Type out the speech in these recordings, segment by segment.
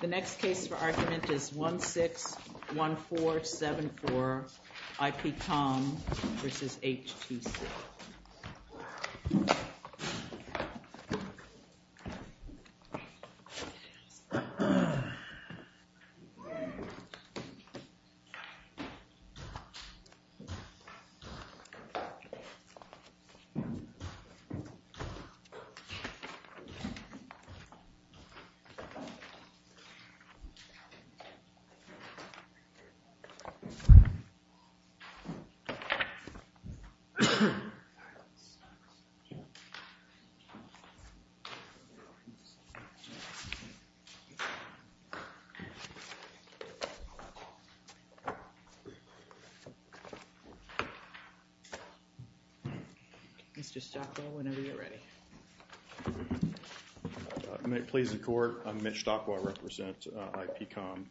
The next case for argument is 161474 IPCOM v. HTC. This case is 161474 IPCOM v. HTC. I'm Mitch Stockwell, I represent IPCOM.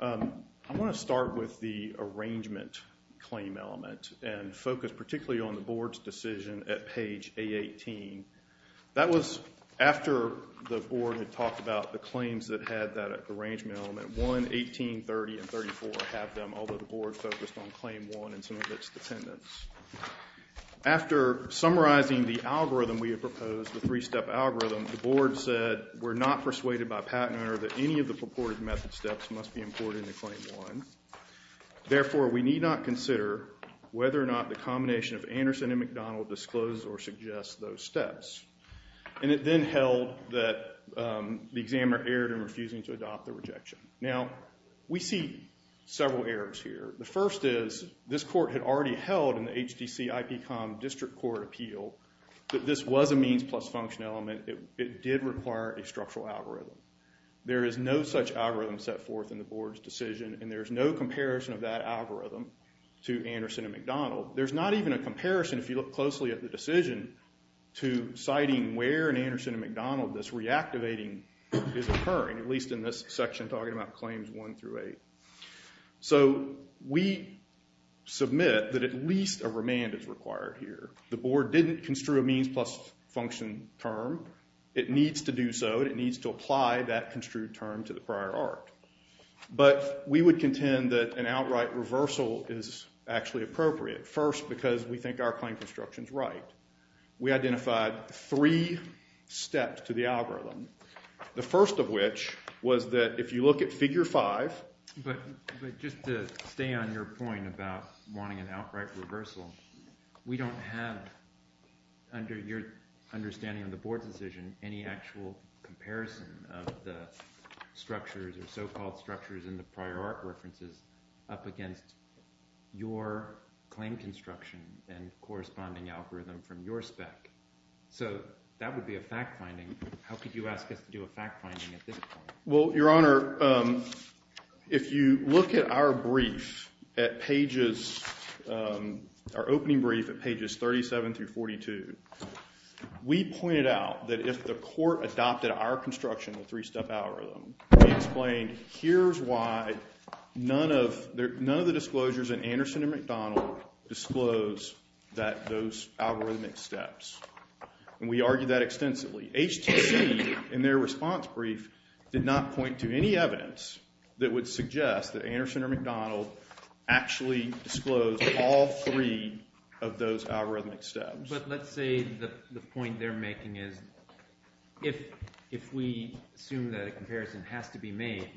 I want to start with the arrangement claim element and focus particularly on the Board's decision at page A18. That was after the Board had talked about the claims that had that arrangement element. 1, 18, 30, and 34 have them, although the Board focused on claim 1 and some of its dependents. After summarizing the algorithm we had proposed, the three-step algorithm, the Board said, we're not persuaded by Pat and Ernie that any of the purported method steps must be imported into claim 1. Therefore, we need not consider whether or not the combination of Anderson and McDonald discloses or suggests those steps. And it then held that the examiner erred in refusing to adopt the rejection. Now, we see several errors here. The first is, this Court had already held in the HTC IPCOM District Court appeal that this was a means plus function element. It did require a structural algorithm. There is no such algorithm set forth in the Board's decision, and there is no comparison of that algorithm to Anderson and McDonald. There's not even a comparison, if you look closely at the decision, to citing where in Anderson and McDonald this reactivating is occurring, at least in this section talking about claims 1 through 8. So, we submit that at least a remand is required here. The Board didn't construe a means plus function term. It needs to do so. It needs to apply that construed term to the prior art. But we would contend that an outright reversal is actually appropriate, first because we think our claim construction is right. We identified three steps to the algorithm, the first of which was that if you look at Figure 5. But just to stay on your point about wanting an outright reversal, we don't have, under your understanding of the Board's decision, any actual comparison of the structures or so-called structures in the prior art references up against your claim construction and corresponding algorithm from your spec. So, that would be a fact-finding. How could you ask us to do a fact-finding at this point? Well, Your Honor, if you look at our brief at pagesóour opening brief at pages 37 through 42, we pointed out that if the court adopted our construction of a three-step algorithm, we explained here's why none of the disclosures in Anderson and McDonald disclose that those algorithmic steps. And we argued that extensively. HTC, in their response brief, did not point to any evidence that would suggest that Anderson or McDonald actually disclosed all three of those algorithmic steps. But let's say the point they're making is if we assume that a comparison has to be made,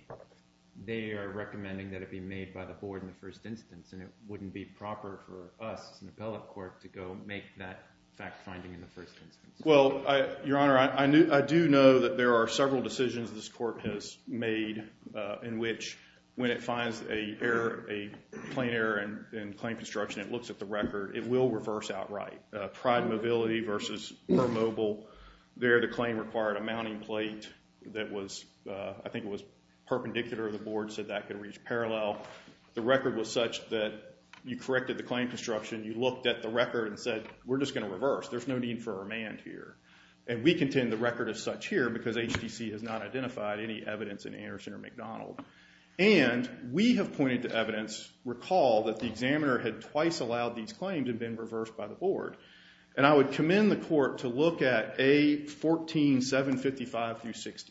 they are recommending that it be made by the Board in the first instance, and it wouldn't be proper for us as an appellate court to go make that fact-finding in the first instance. Well, Your Honor, I do know that there are several decisions this court has made in which when it finds a plain error in claim construction, it looks at the record. It will reverse outright. Pride Mobility versus Mobile, there the claim required a mounting plate that wasó I think it was perpendicular to the board, so that could reach parallel. The record was such that you corrected the claim construction. You looked at the record and said, we're just going to reverse. There's no need for remand here. And we contend the record is such here because HTC has not identified any evidence in Anderson or McDonald. And we have pointed to evidence, recall, that the examiner had twice allowed these claims and been reversed by the board. And I would commend the court to look at A14755-60.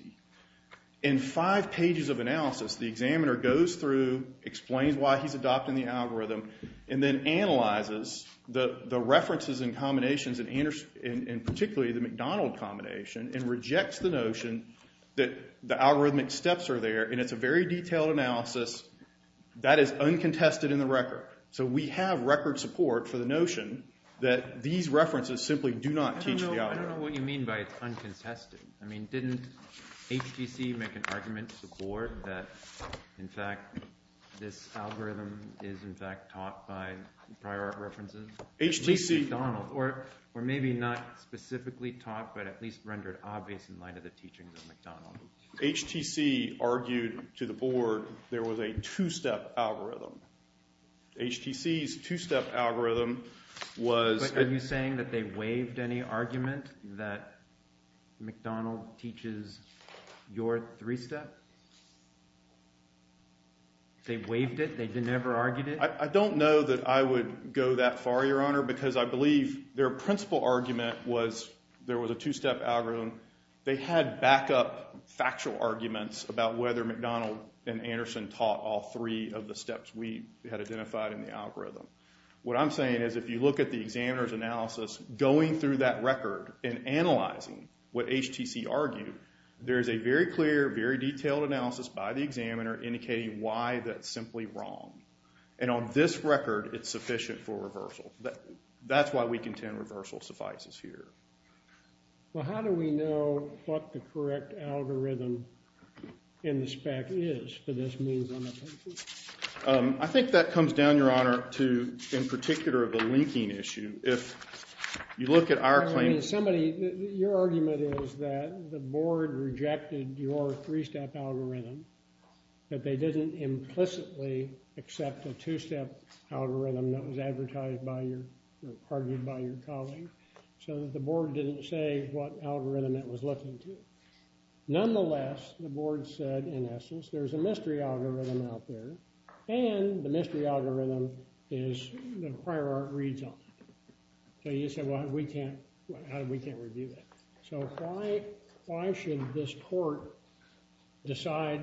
In five pages of analysis, the examiner goes through, explains why he's adopting the algorithm, and then analyzes the references and combinations, and particularly the McDonald combination, and rejects the notion that the algorithmic steps are there. And it's a very detailed analysis. That is uncontested in the record. So we have record support for the notion that these references simply do not teach the algorithm. I don't know what you mean by it's uncontested. I mean, didn't HTC make an argument to the board that, in fact, this algorithm is, in fact, taught by prior references? At least McDonald's. Or maybe not specifically taught, but at least rendered obvious in light of the teachings of McDonald's. HTC argued to the board there was a two-step algorithm. HTC's two-step algorithm was. But are you saying that they waived any argument that McDonald teaches your three-step? They waived it? They never argued it? I don't know that I would go that far, Your Honor, because I believe their principal argument was there was a two-step algorithm. They had backup factual arguments about whether McDonald and Anderson taught all three of the steps we had identified in the algorithm. What I'm saying is, if you look at the examiner's analysis, going through that record and analyzing what HTC argued, there is a very clear, very detailed analysis by the examiner indicating why that's simply wrong. And on this record, it's sufficient for reversal. That's why we contend reversal suffices here. Well, how do we know what the correct algorithm in the spec is for this means on the paper? I think that comes down, Your Honor, to, in particular, the linking issue. If you look at our claim— Your argument is that the board rejected your three-step algorithm, that they didn't implicitly accept a two-step algorithm that was advertised by your— or argued by your colleague, so that the board didn't say what algorithm it was looking to. Nonetheless, the board said, in essence, there's a mystery algorithm out there, and the mystery algorithm is the prior art reads on it. So you said, well, we can't—we can't review that. So why should this court decide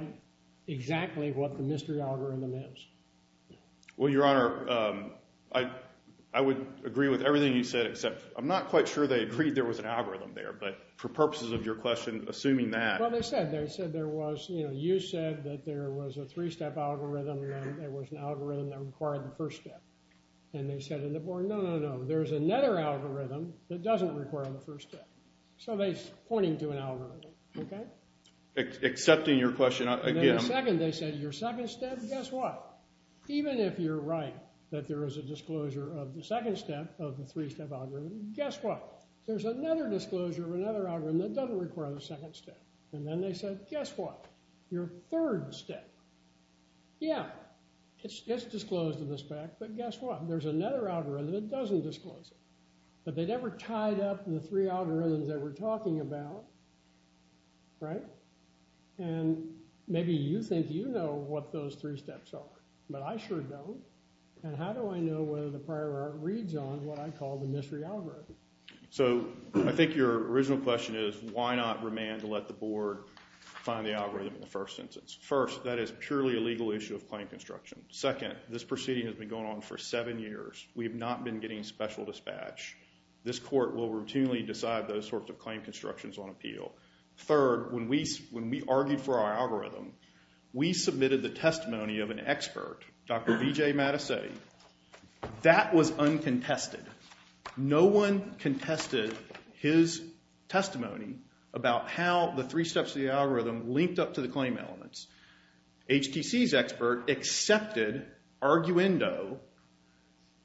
exactly what the mystery algorithm is? Well, Your Honor, I would agree with everything you said, except I'm not quite sure they agreed there was an algorithm there. But for purposes of your question, assuming that— Well, they said there was—you said that there was a three-step algorithm, and there was an algorithm that required the first step. And they said to the board, no, no, no, there's another algorithm that doesn't require the first step. So they're pointing to an algorithm, okay? Accepting your question, again— And then the second, they said, your second step, guess what? Even if you're right that there is a disclosure of the second step of the three-step algorithm, guess what? There's another disclosure of another algorithm that doesn't require the second step. And then they said, guess what? Your third step, yeah, it's disclosed in the spec, but guess what? There's another algorithm that doesn't disclose it. But they never tied up the three algorithms that we're talking about, right? And maybe you think you know what those three steps are, but I sure don't. And how do I know whether the prior art reads on what I call the mystery algorithm? So I think your original question is why not remand to let the board find the algorithm in the first instance? First, that is purely a legal issue of claim construction. Second, this proceeding has been going on for seven years. We have not been getting special dispatch. This court will routinely decide those sorts of claim constructions on appeal. Third, when we argued for our algorithm, we submitted the testimony of an expert, Dr. Vijay Mattesetti. That was uncontested. No one contested his testimony about how the three steps of the algorithm linked up to the claim elements. HTC's expert accepted arguendo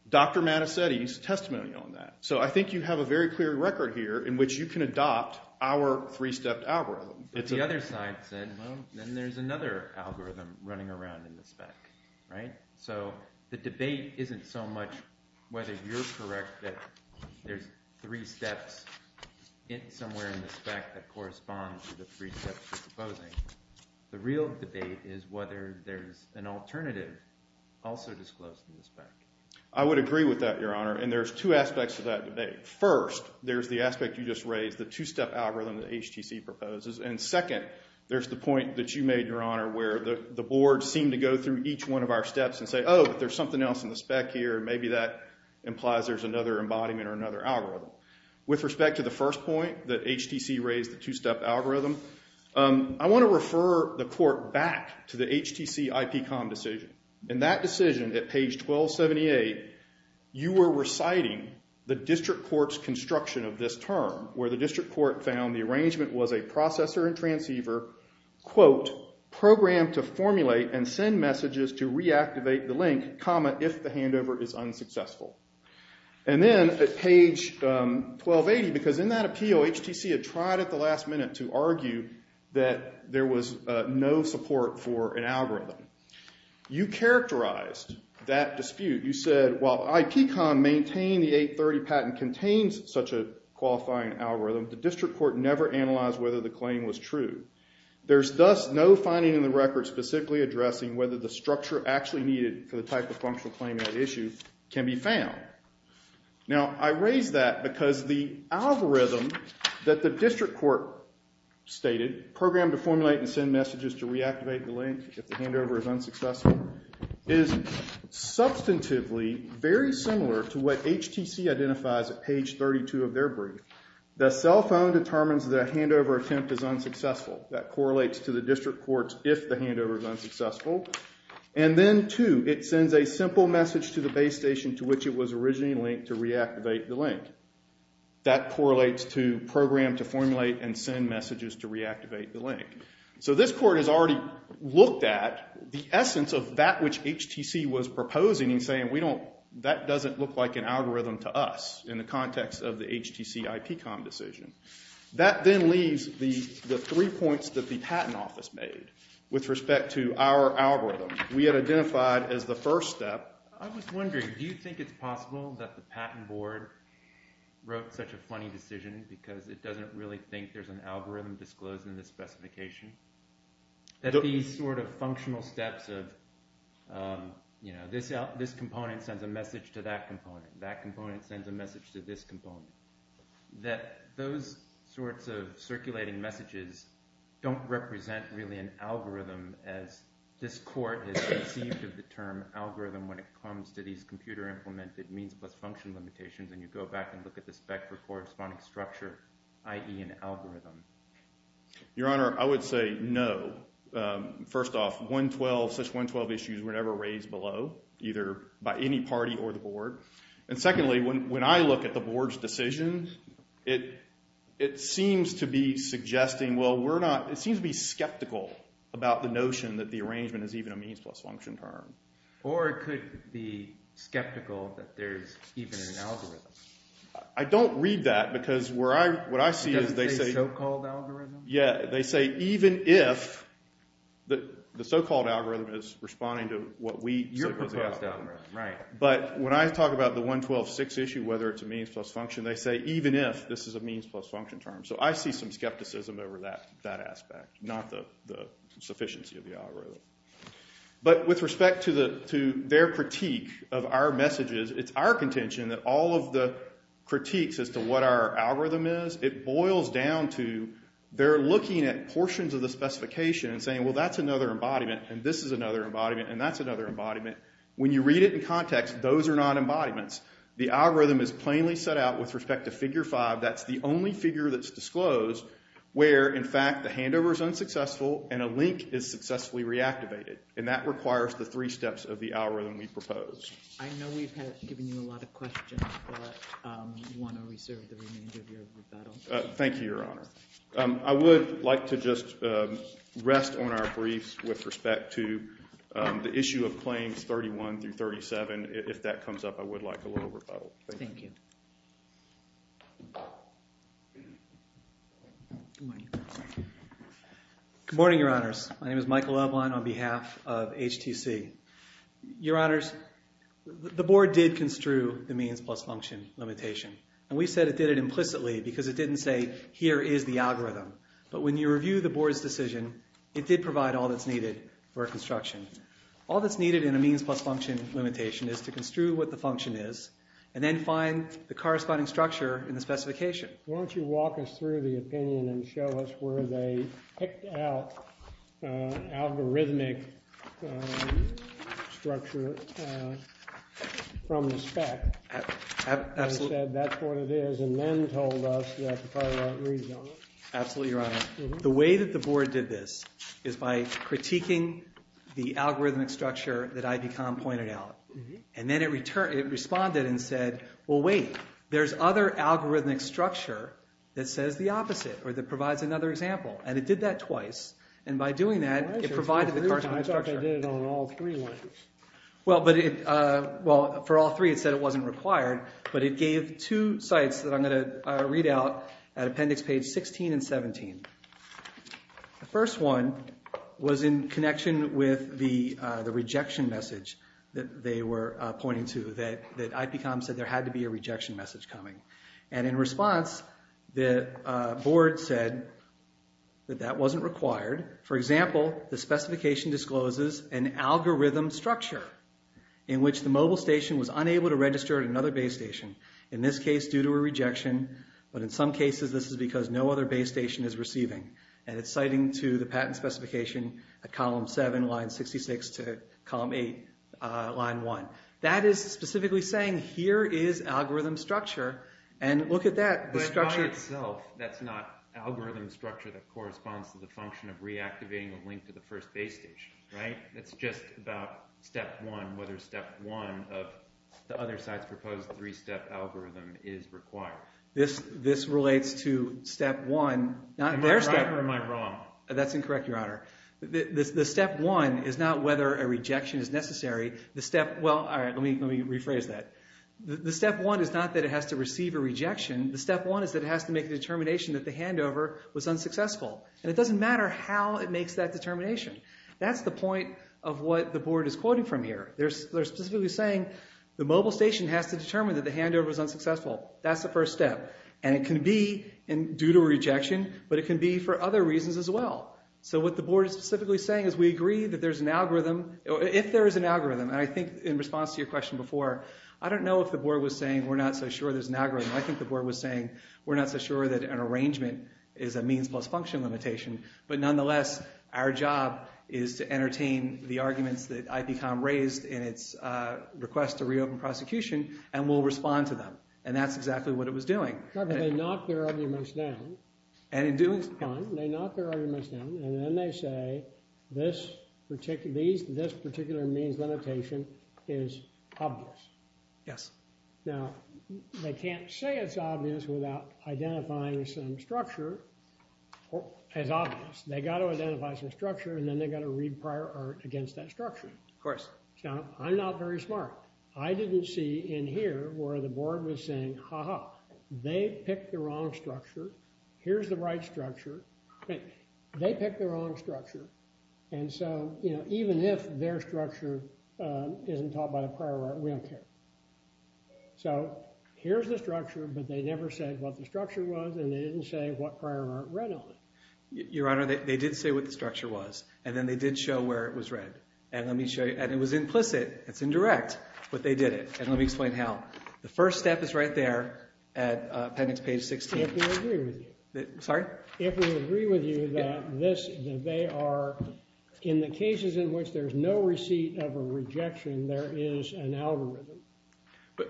Dr. Mattesetti's testimony on that. So I think you have a very clear record here in which you can adopt our three-stepped algorithm. But the other side said, well, then there's another algorithm running around in the spec, right? So the debate isn't so much whether you're correct that there's three steps somewhere in the spec that correspond to the three steps you're proposing. The real debate is whether there's an alternative also disclosed in the spec. I would agree with that, Your Honor, and there's two aspects to that debate. First, there's the aspect you just raised, the two-step algorithm that HTC proposes. And second, there's the point that you made, Your Honor, where the board seemed to go through each one of our steps and say, oh, but there's something else in the spec here, and maybe that implies there's another embodiment or another algorithm. With respect to the first point, that HTC raised the two-step algorithm, I want to refer the court back to the HTC IPCOM decision. In that decision, at page 1278, you were reciting the district court's construction of this term, where the district court found the arrangement was a processor and transceiver, quote, programmed to formulate and send messages to reactivate the link, comma, if the handover is unsuccessful. And then at page 1280, because in that appeal HTC had tried at the last minute to argue that there was no support for an algorithm, you characterized that dispute. You said, while IPCOM maintained the 830 patent contains such a qualifying algorithm, the district court never analyzed whether the claim was true. There's thus no finding in the record specifically addressing whether the structure actually needed for the type of functional claim at issue can be found. Now, I raise that because the algorithm that the district court stated, programmed to formulate and send messages to reactivate the link if the handover is unsuccessful, is substantively very similar to what HTC identifies at page 32 of their brief. The cell phone determines that a handover attempt is unsuccessful. That correlates to the district court's if the handover is unsuccessful. And then two, it sends a simple message to the base station to which it was originally linked to reactivate the link. That correlates to program to formulate and send messages to reactivate the link. So this court has already looked at the essence of that which HTC was proposing and saying, that doesn't look like an algorithm to us in the context of the HTC IPCOM decision. That then leaves the three points that the patent office made with respect to our algorithm. We had identified as the first step. I was wondering, do you think it's possible that the patent board wrote such a funny decision because it doesn't really think there's an algorithm disclosed in the specification? That these sort of functional steps of, you know, this component sends a message to that component. That component sends a message to this component. That those sorts of circulating messages don't represent really an algorithm as this court has conceived of the term algorithm when it comes to these computer implemented means plus function limitations. And you go back and look at the spec for corresponding structure, i.e. an algorithm. Your Honor, I would say no. First off, 112, such 112 issues were never raised below, either by any party or the board. And secondly, when I look at the board's decisions, it seems to be suggesting, well, we're not, it seems to be skeptical about the notion that the arrangement is even a means plus function term. Or it could be skeptical that there's even an algorithm. I don't read that because what I see is they say. Doesn't say so-called algorithm? Yeah, they say even if the so-called algorithm is responding to what we. Your proposed algorithm, right. But when I talk about the 112.6 issue, whether it's a means plus function, they say even if this is a means plus function term. So I see some skepticism over that aspect, not the sufficiency of the algorithm. But with respect to their critique of our messages, it's our contention that all of the critiques as to what our algorithm is, it boils down to they're looking at portions of the specification and saying, well, that's another embodiment and this is another embodiment and that's another embodiment. When you read it in context, those are not embodiments. The algorithm is plainly set out with respect to figure five. That's the only figure that's disclosed where, in fact, the handover is unsuccessful and a link is successfully reactivated. And that requires the three steps of the algorithm we propose. I know we've given you a lot of questions, but we want to reserve the remainder of your rebuttal. Thank you, Your Honor. I would like to just rest on our briefs with respect to the issue of claims 31 through 37. If that comes up, I would like a little rebuttal. Thank you. Good morning, Your Honors. My name is Michael Loveland on behalf of HTC. Your Honors, the board did construe the means plus function limitation, and we said it did it implicitly because it didn't say here is the algorithm. But when you review the board's decision, it did provide all that's needed for construction. All that's needed in a means plus function limitation is to construe what the function is and then find the corresponding structure in the specification. Why don't you walk us through the opinion and show us where they picked out algorithmic structure from the spec. Absolutely. And said that's what it is and then told us that the copyright reads on it. Absolutely, Your Honor. The way that the board did this is by critiquing the algorithmic structure that IBCOM pointed out. And then it responded and said, well, wait. There's other algorithmic structure that says the opposite or that provides another example. And it did that twice. And by doing that, it provided the corresponding structure. I thought they did it on all three. Well, for all three, it said it wasn't required. But it gave two sites that I'm going to read out at appendix page 16 and 17. The first one was in connection with the rejection message that they were pointing to that IBCOM said there had to be a rejection message coming. And in response, the board said that that wasn't required. For example, the specification discloses an algorithm structure in which the mobile station was unable to register at another base station. In this case, due to a rejection. But in some cases, this is because no other base station is receiving. And it's citing to the patent specification at column 7, line 66 to column 8, line 1. That is specifically saying here is algorithm structure. And look at that. The structure itself, that's not algorithm structure that corresponds to the function of reactivating a link to the first base station, right? It's just about step one, whether step one of the other site's proposed three-step algorithm is required. This relates to step one. Am I right or am I wrong? That's incorrect, Your Honor. The step one is not whether a rejection is necessary. The step – well, let me rephrase that. The step one is not that it has to receive a rejection. The step one is that it has to make a determination that the handover was unsuccessful. And it doesn't matter how it makes that determination. That's the point of what the board is quoting from here. They're specifically saying the mobile station has to determine that the handover was unsuccessful. That's the first step. And it can be due to a rejection, but it can be for other reasons as well. So what the board is specifically saying is we agree that there's an algorithm – if there is an algorithm. And I think in response to your question before, I don't know if the board was saying we're not so sure there's an algorithm. I think the board was saying we're not so sure that an arrangement is a means plus function limitation. But nonetheless, our job is to entertain the arguments that IPCOM raised in its request to reopen prosecution, and we'll respond to them. And that's exactly what it was doing. But they knock their arguments down. And in doing so – They knock their arguments down, and then they say this particular means limitation is obvious. Yes. Now, they can't say it's obvious without identifying some structure as obvious. They've got to identify some structure, and then they've got to read prior art against that structure. Of course. Now, I'm not very smart. I didn't see in here where the board was saying, ha-ha, they picked the wrong structure. Here's the right structure. They picked the wrong structure. And so even if their structure isn't taught by the prior art, we don't care. So here's the structure, but they never said what the structure was, and they didn't say what prior art read on it. Your Honor, they did say what the structure was, and then they did show where it was read. And let me show you – and it was implicit. It's indirect. But they did it, and let me explain how. The first step is right there at appendix page 16. If we agree with you. Sorry? If we agree with you that this – that they are – in the cases in which there's no receipt of a rejection, there is an algorithm.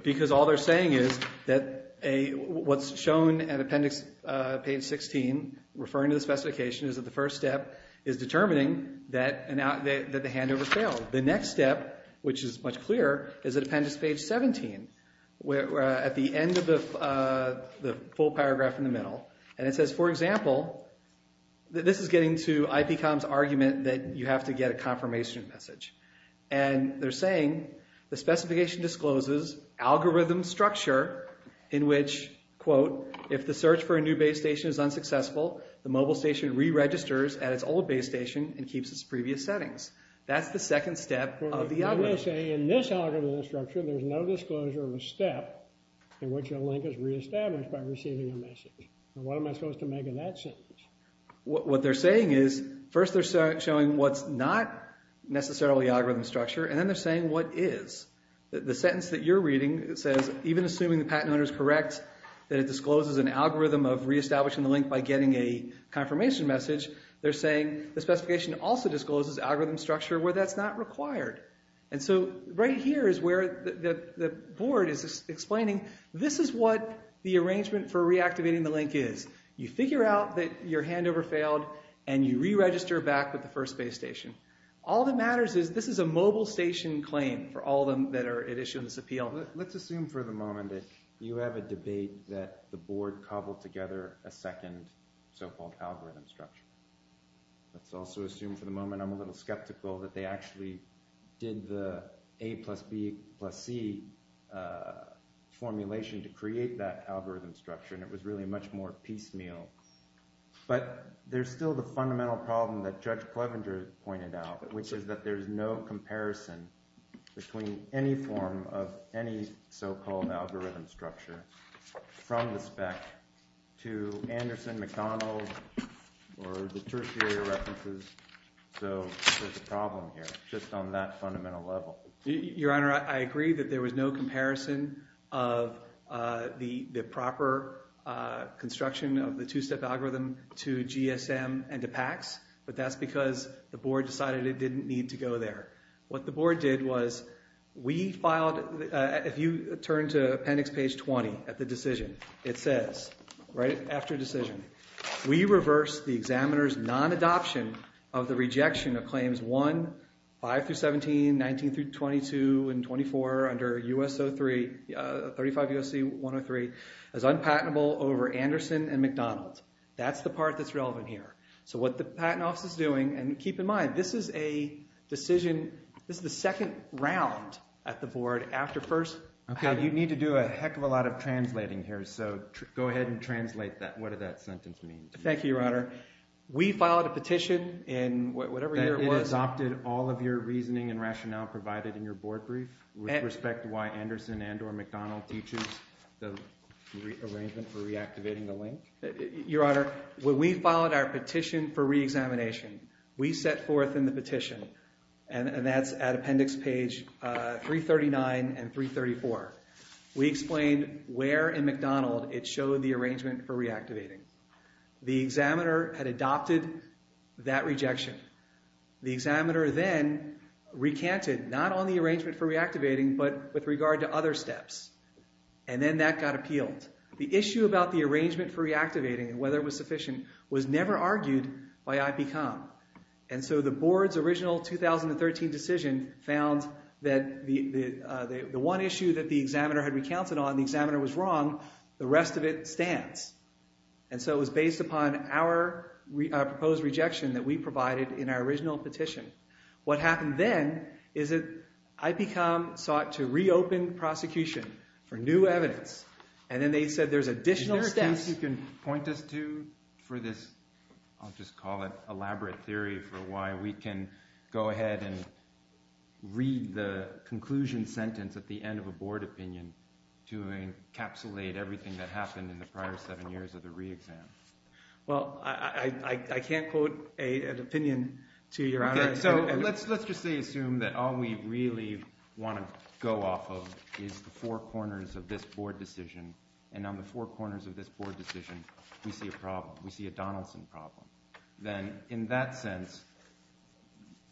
Because all they're saying is that what's shown at appendix page 16, referring to the specification, is that the first step is determining that the handover failed. The next step, which is much clearer, is at appendix page 17, at the end of the full paragraph in the middle. And it says, for example – this is getting to IPCOM's argument that you have to get a confirmation message. And they're saying the specification discloses algorithm structure in which, quote, if the search for a new base station is unsuccessful, the mobile station re-registers at its old base station and keeps its previous settings. That's the second step of the algorithm. And they say in this algorithm structure, there's no disclosure of a step in which a link is re-established by receiving a message. And what am I supposed to make of that sentence? What they're saying is, first they're showing what's not necessarily algorithm structure, and then they're saying what is. The sentence that you're reading says, even assuming the patent owner is correct, that it discloses an algorithm of re-establishing the link by getting a confirmation message, they're saying the specification also discloses algorithm structure where that's not required. And so right here is where the board is explaining this is what the arrangement for reactivating the link is. You figure out that your handover failed, and you re-register back with the first base station. All that matters is this is a mobile station claim for all of them that are at issue in this appeal. Let's assume for the moment that you have a debate that the board cobbled together a second so-called algorithm structure. Let's also assume for the moment, I'm a little skeptical, that they actually did the A plus B plus C formulation to create that algorithm structure, and it was really much more piecemeal. But there's still the fundamental problem that Judge Plevenger pointed out, which is that there's no comparison between any form of any so-called algorithm structure from the spec to Anderson, McDonald, or the tertiary references. So there's a problem here just on that fundamental level. Your Honor, I agree that there was no comparison of the proper construction of the two-step algorithm to GSM and to PACS, but that's because the board decided it didn't need to go there. What the board did was we filed, if you turn to appendix page 20 at the decision, it says, right after decision, we reversed the examiner's non-adoption of the rejection of claims 1, 5-17, 19-22, and 24 under 35 U.S.C. 103 as unpatentable over Anderson and McDonald. That's the part that's relevant here. So what the patent office is doing, and keep in mind, this is a decision, this is the second round at the board after first. Okay, you need to do a heck of a lot of translating here, so go ahead and translate that. What does that sentence mean to you? Thank you, Your Honor. We filed a petition in whatever year it was. It adopted all of your reasoning and rationale provided in your board brief with respect to why Anderson and or McDonald teaches the arrangement for reactivating the link? Your Honor, when we filed our petition for reexamination, we set forth in the petition, and that's at appendix page 339 and 334. We explained where in McDonald it showed the arrangement for reactivating. The examiner had adopted that rejection. The examiner then recanted, not on the arrangement for reactivating, but with regard to other steps, and then that got appealed. The issue about the arrangement for reactivating and whether it was sufficient was never argued by IPCOM. And so the board's original 2013 decision found that the one issue that the examiner had recounted on, the examiner was wrong, the rest of it stands. And so it was based upon our proposed rejection that we provided in our original petition. What happened then is that IPCOM sought to reopen prosecution for new evidence, and then they said there's additional steps. Is there a case you can point us to for this – I'll just call it elaborate theory for why we can go ahead and read the conclusion sentence at the end of a board opinion to encapsulate everything that happened in the prior seven years of the reexam? Well, I can't quote an opinion to Your Honor. So let's just assume that all we really want to go off of is the four corners of this board decision, and on the four corners of this board decision we see a Donaldson problem. Then in that sense,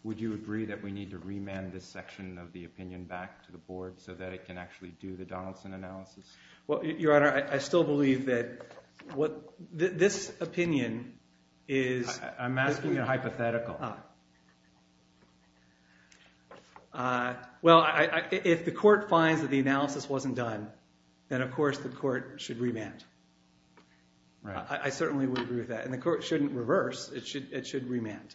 would you agree that we need to remand this section of the opinion back to the board so that it can actually do the Donaldson analysis? Well, Your Honor, I still believe that this opinion is – I'm asking a hypothetical. Well, if the court finds that the analysis wasn't done, then of course the court should remand. I certainly would agree with that, and the court shouldn't reverse. It should remand.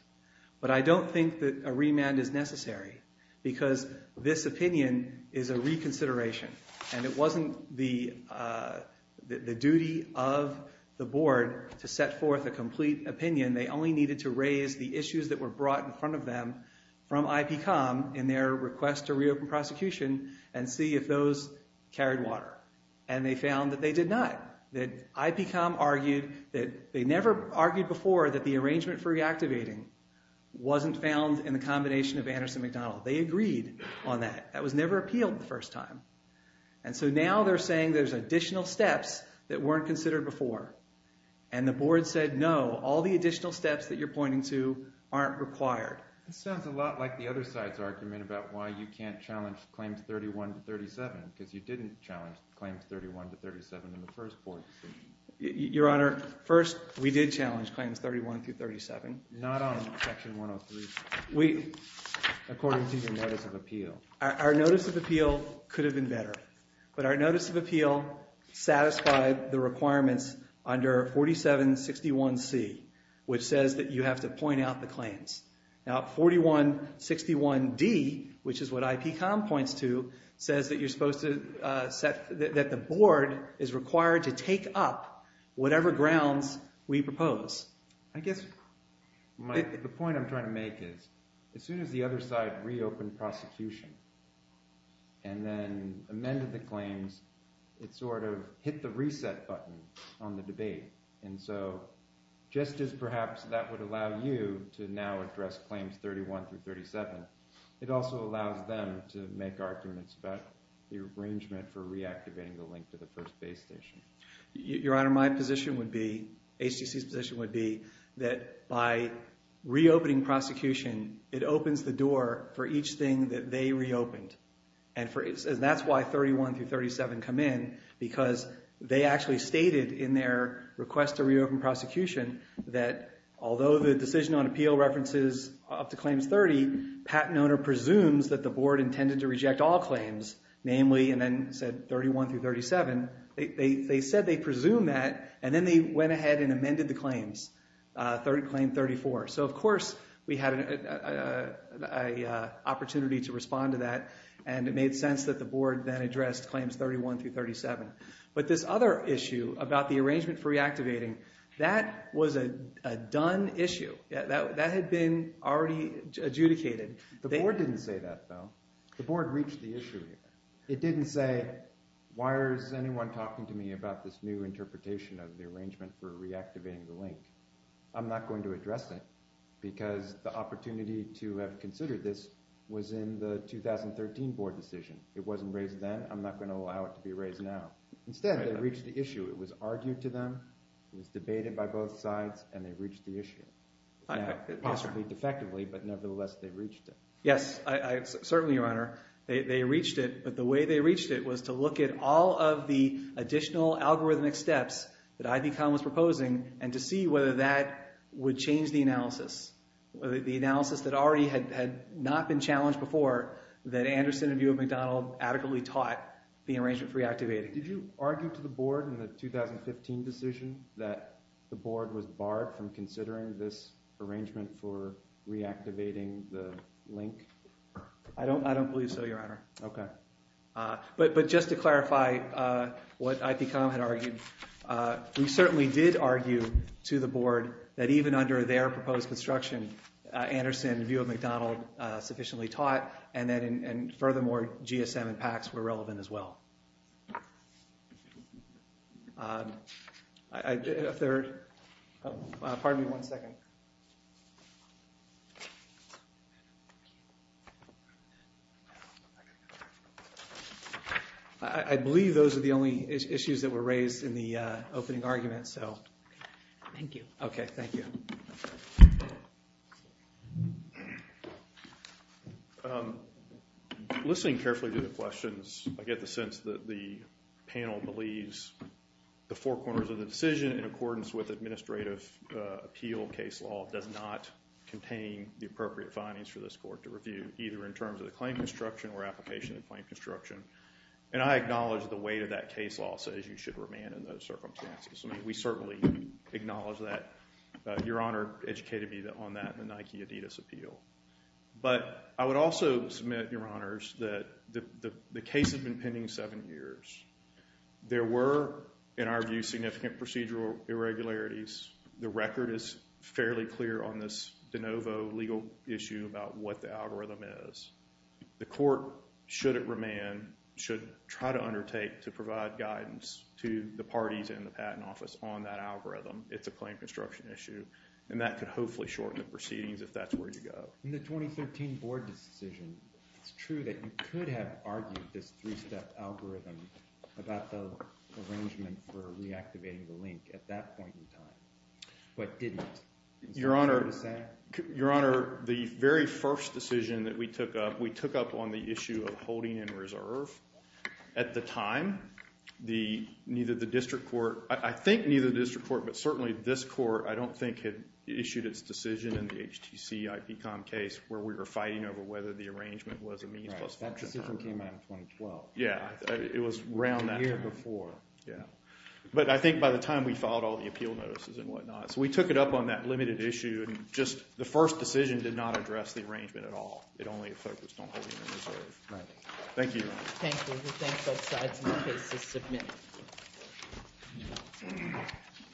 But I don't think that a remand is necessary because this opinion is a reconsideration, and it wasn't the duty of the board to set forth a complete opinion. They only needed to raise the issues that were brought in front of them from IPCOM in their request to reopen prosecution and see if those carried water, and they found that they did not. IPCOM argued that – they never argued before that the arrangement for reactivating wasn't found in the combination of Anderson-McDonnell. They agreed on that. That was never appealed the first time. And so now they're saying there's additional steps that weren't considered before, and the board said no, all the additional steps that you're pointing to aren't required. It sounds a lot like the other side's argument about why you can't challenge Claims 31 to 37 because you didn't challenge Claims 31 to 37 in the first board decision. Your Honor, first, we did challenge Claims 31 through 37. Not on Section 103, according to your Notice of Appeal. Our Notice of Appeal could have been better, but our Notice of Appeal satisfied the requirements under 4761C, which says that you have to point out the claims. Now 4161D, which is what IPCOM points to, says that you're supposed to set – that the board is required to take up whatever grounds we propose. I guess the point I'm trying to make is as soon as the other side reopened prosecution and then amended the claims, it sort of hit the reset button on the debate. And so just as perhaps that would allow you to now address Claims 31 through 37, it also allows them to make arguments about the arrangement for reactivating the link to the first base station. Your Honor, my position would be – HTC's position would be that by reopening prosecution, it opens the door for each thing that they reopened. And that's why 31 through 37 come in because they actually stated in their request to reopen prosecution that although the Decision on Appeal references up to Claims 30, patent owner presumes that the board intended to reject all claims, namely – and then said 31 through 37. They said they presume that, and then they went ahead and amended the claims, Claim 34. So, of course, we had an opportunity to respond to that, and it made sense that the board then addressed Claims 31 through 37. But this other issue about the arrangement for reactivating, that was a done issue. That had been already adjudicated. The board didn't say that, though. The board reached the issue here. It didn't say, why is anyone talking to me about this new interpretation of the arrangement for reactivating the link? I'm not going to address it because the opportunity to have considered this was in the 2013 board decision. It wasn't raised then. I'm not going to allow it to be raised now. Instead, they reached the issue. It was argued to them. It was debated by both sides, and they reached the issue. Possibly defectively, but nevertheless, they reached it. Yes, certainly, Your Honor. They reached it, but the way they reached it was to look at all of the additional algorithmic steps that IBCOM was proposing and to see whether that would change the analysis. The analysis that already had not been challenged before, that Anderson and Buick and McDonald adequately taught the arrangement for reactivating. Did you argue to the board in the 2015 decision that the board was barred from considering this arrangement for reactivating the link? I don't believe so, Your Honor. But just to clarify what IBCOM had argued, we certainly did argue to the board that even under their proposed construction, Anderson and Buick and McDonald sufficiently taught, and furthermore, GSM and PACS were relevant as well. A third? Pardon me one second. I believe those are the only issues that were raised in the opening argument, so. Thank you. Okay, thank you. Listening carefully to the questions, I get the sense that the panel believes the four corners of the decision in accordance with administrative appeal case law does not contain the appropriate findings for this court to review, either in terms of the claim construction or application of the claim construction. And I acknowledge the weight of that case law says you should remand in those circumstances. I mean, we certainly acknowledge that. Your Honor educated me on that in the Nike Adidas appeal. But I would also submit, Your Honors, that the case has been pending seven years. There were, in our view, significant procedural irregularities. The record is fairly clear on this de novo legal issue about what the algorithm is. The court, should it remand, should try to undertake to provide guidance to the parties in the Patent Office on that algorithm. It's a claim construction issue, and that could hopefully shorten the proceedings if that's where you go. In the 2013 board decision, it's true that you could have argued this three-step algorithm about the arrangement for reactivating the link at that point in time, but didn't. Your Honor, the very first decision that we took up, we took up on the issue of holding in reserve. At the time, neither the district court, I think neither the district court, but certainly this court, I don't think had issued its decision in the HTC IPCOM case where we were fighting over whether the arrangement was a means plus function. Right, that decision came out in 2012. Yeah, it was around that time. The year before. Yeah, but I think by the time we filed all the appeal notices and whatnot, so we took it up on that limited issue, and just the first decision did not address the arrangement at all. It only focused on holding in reserve. Right. Thank you. Thank you. We'll thank both sides in the case that submitted.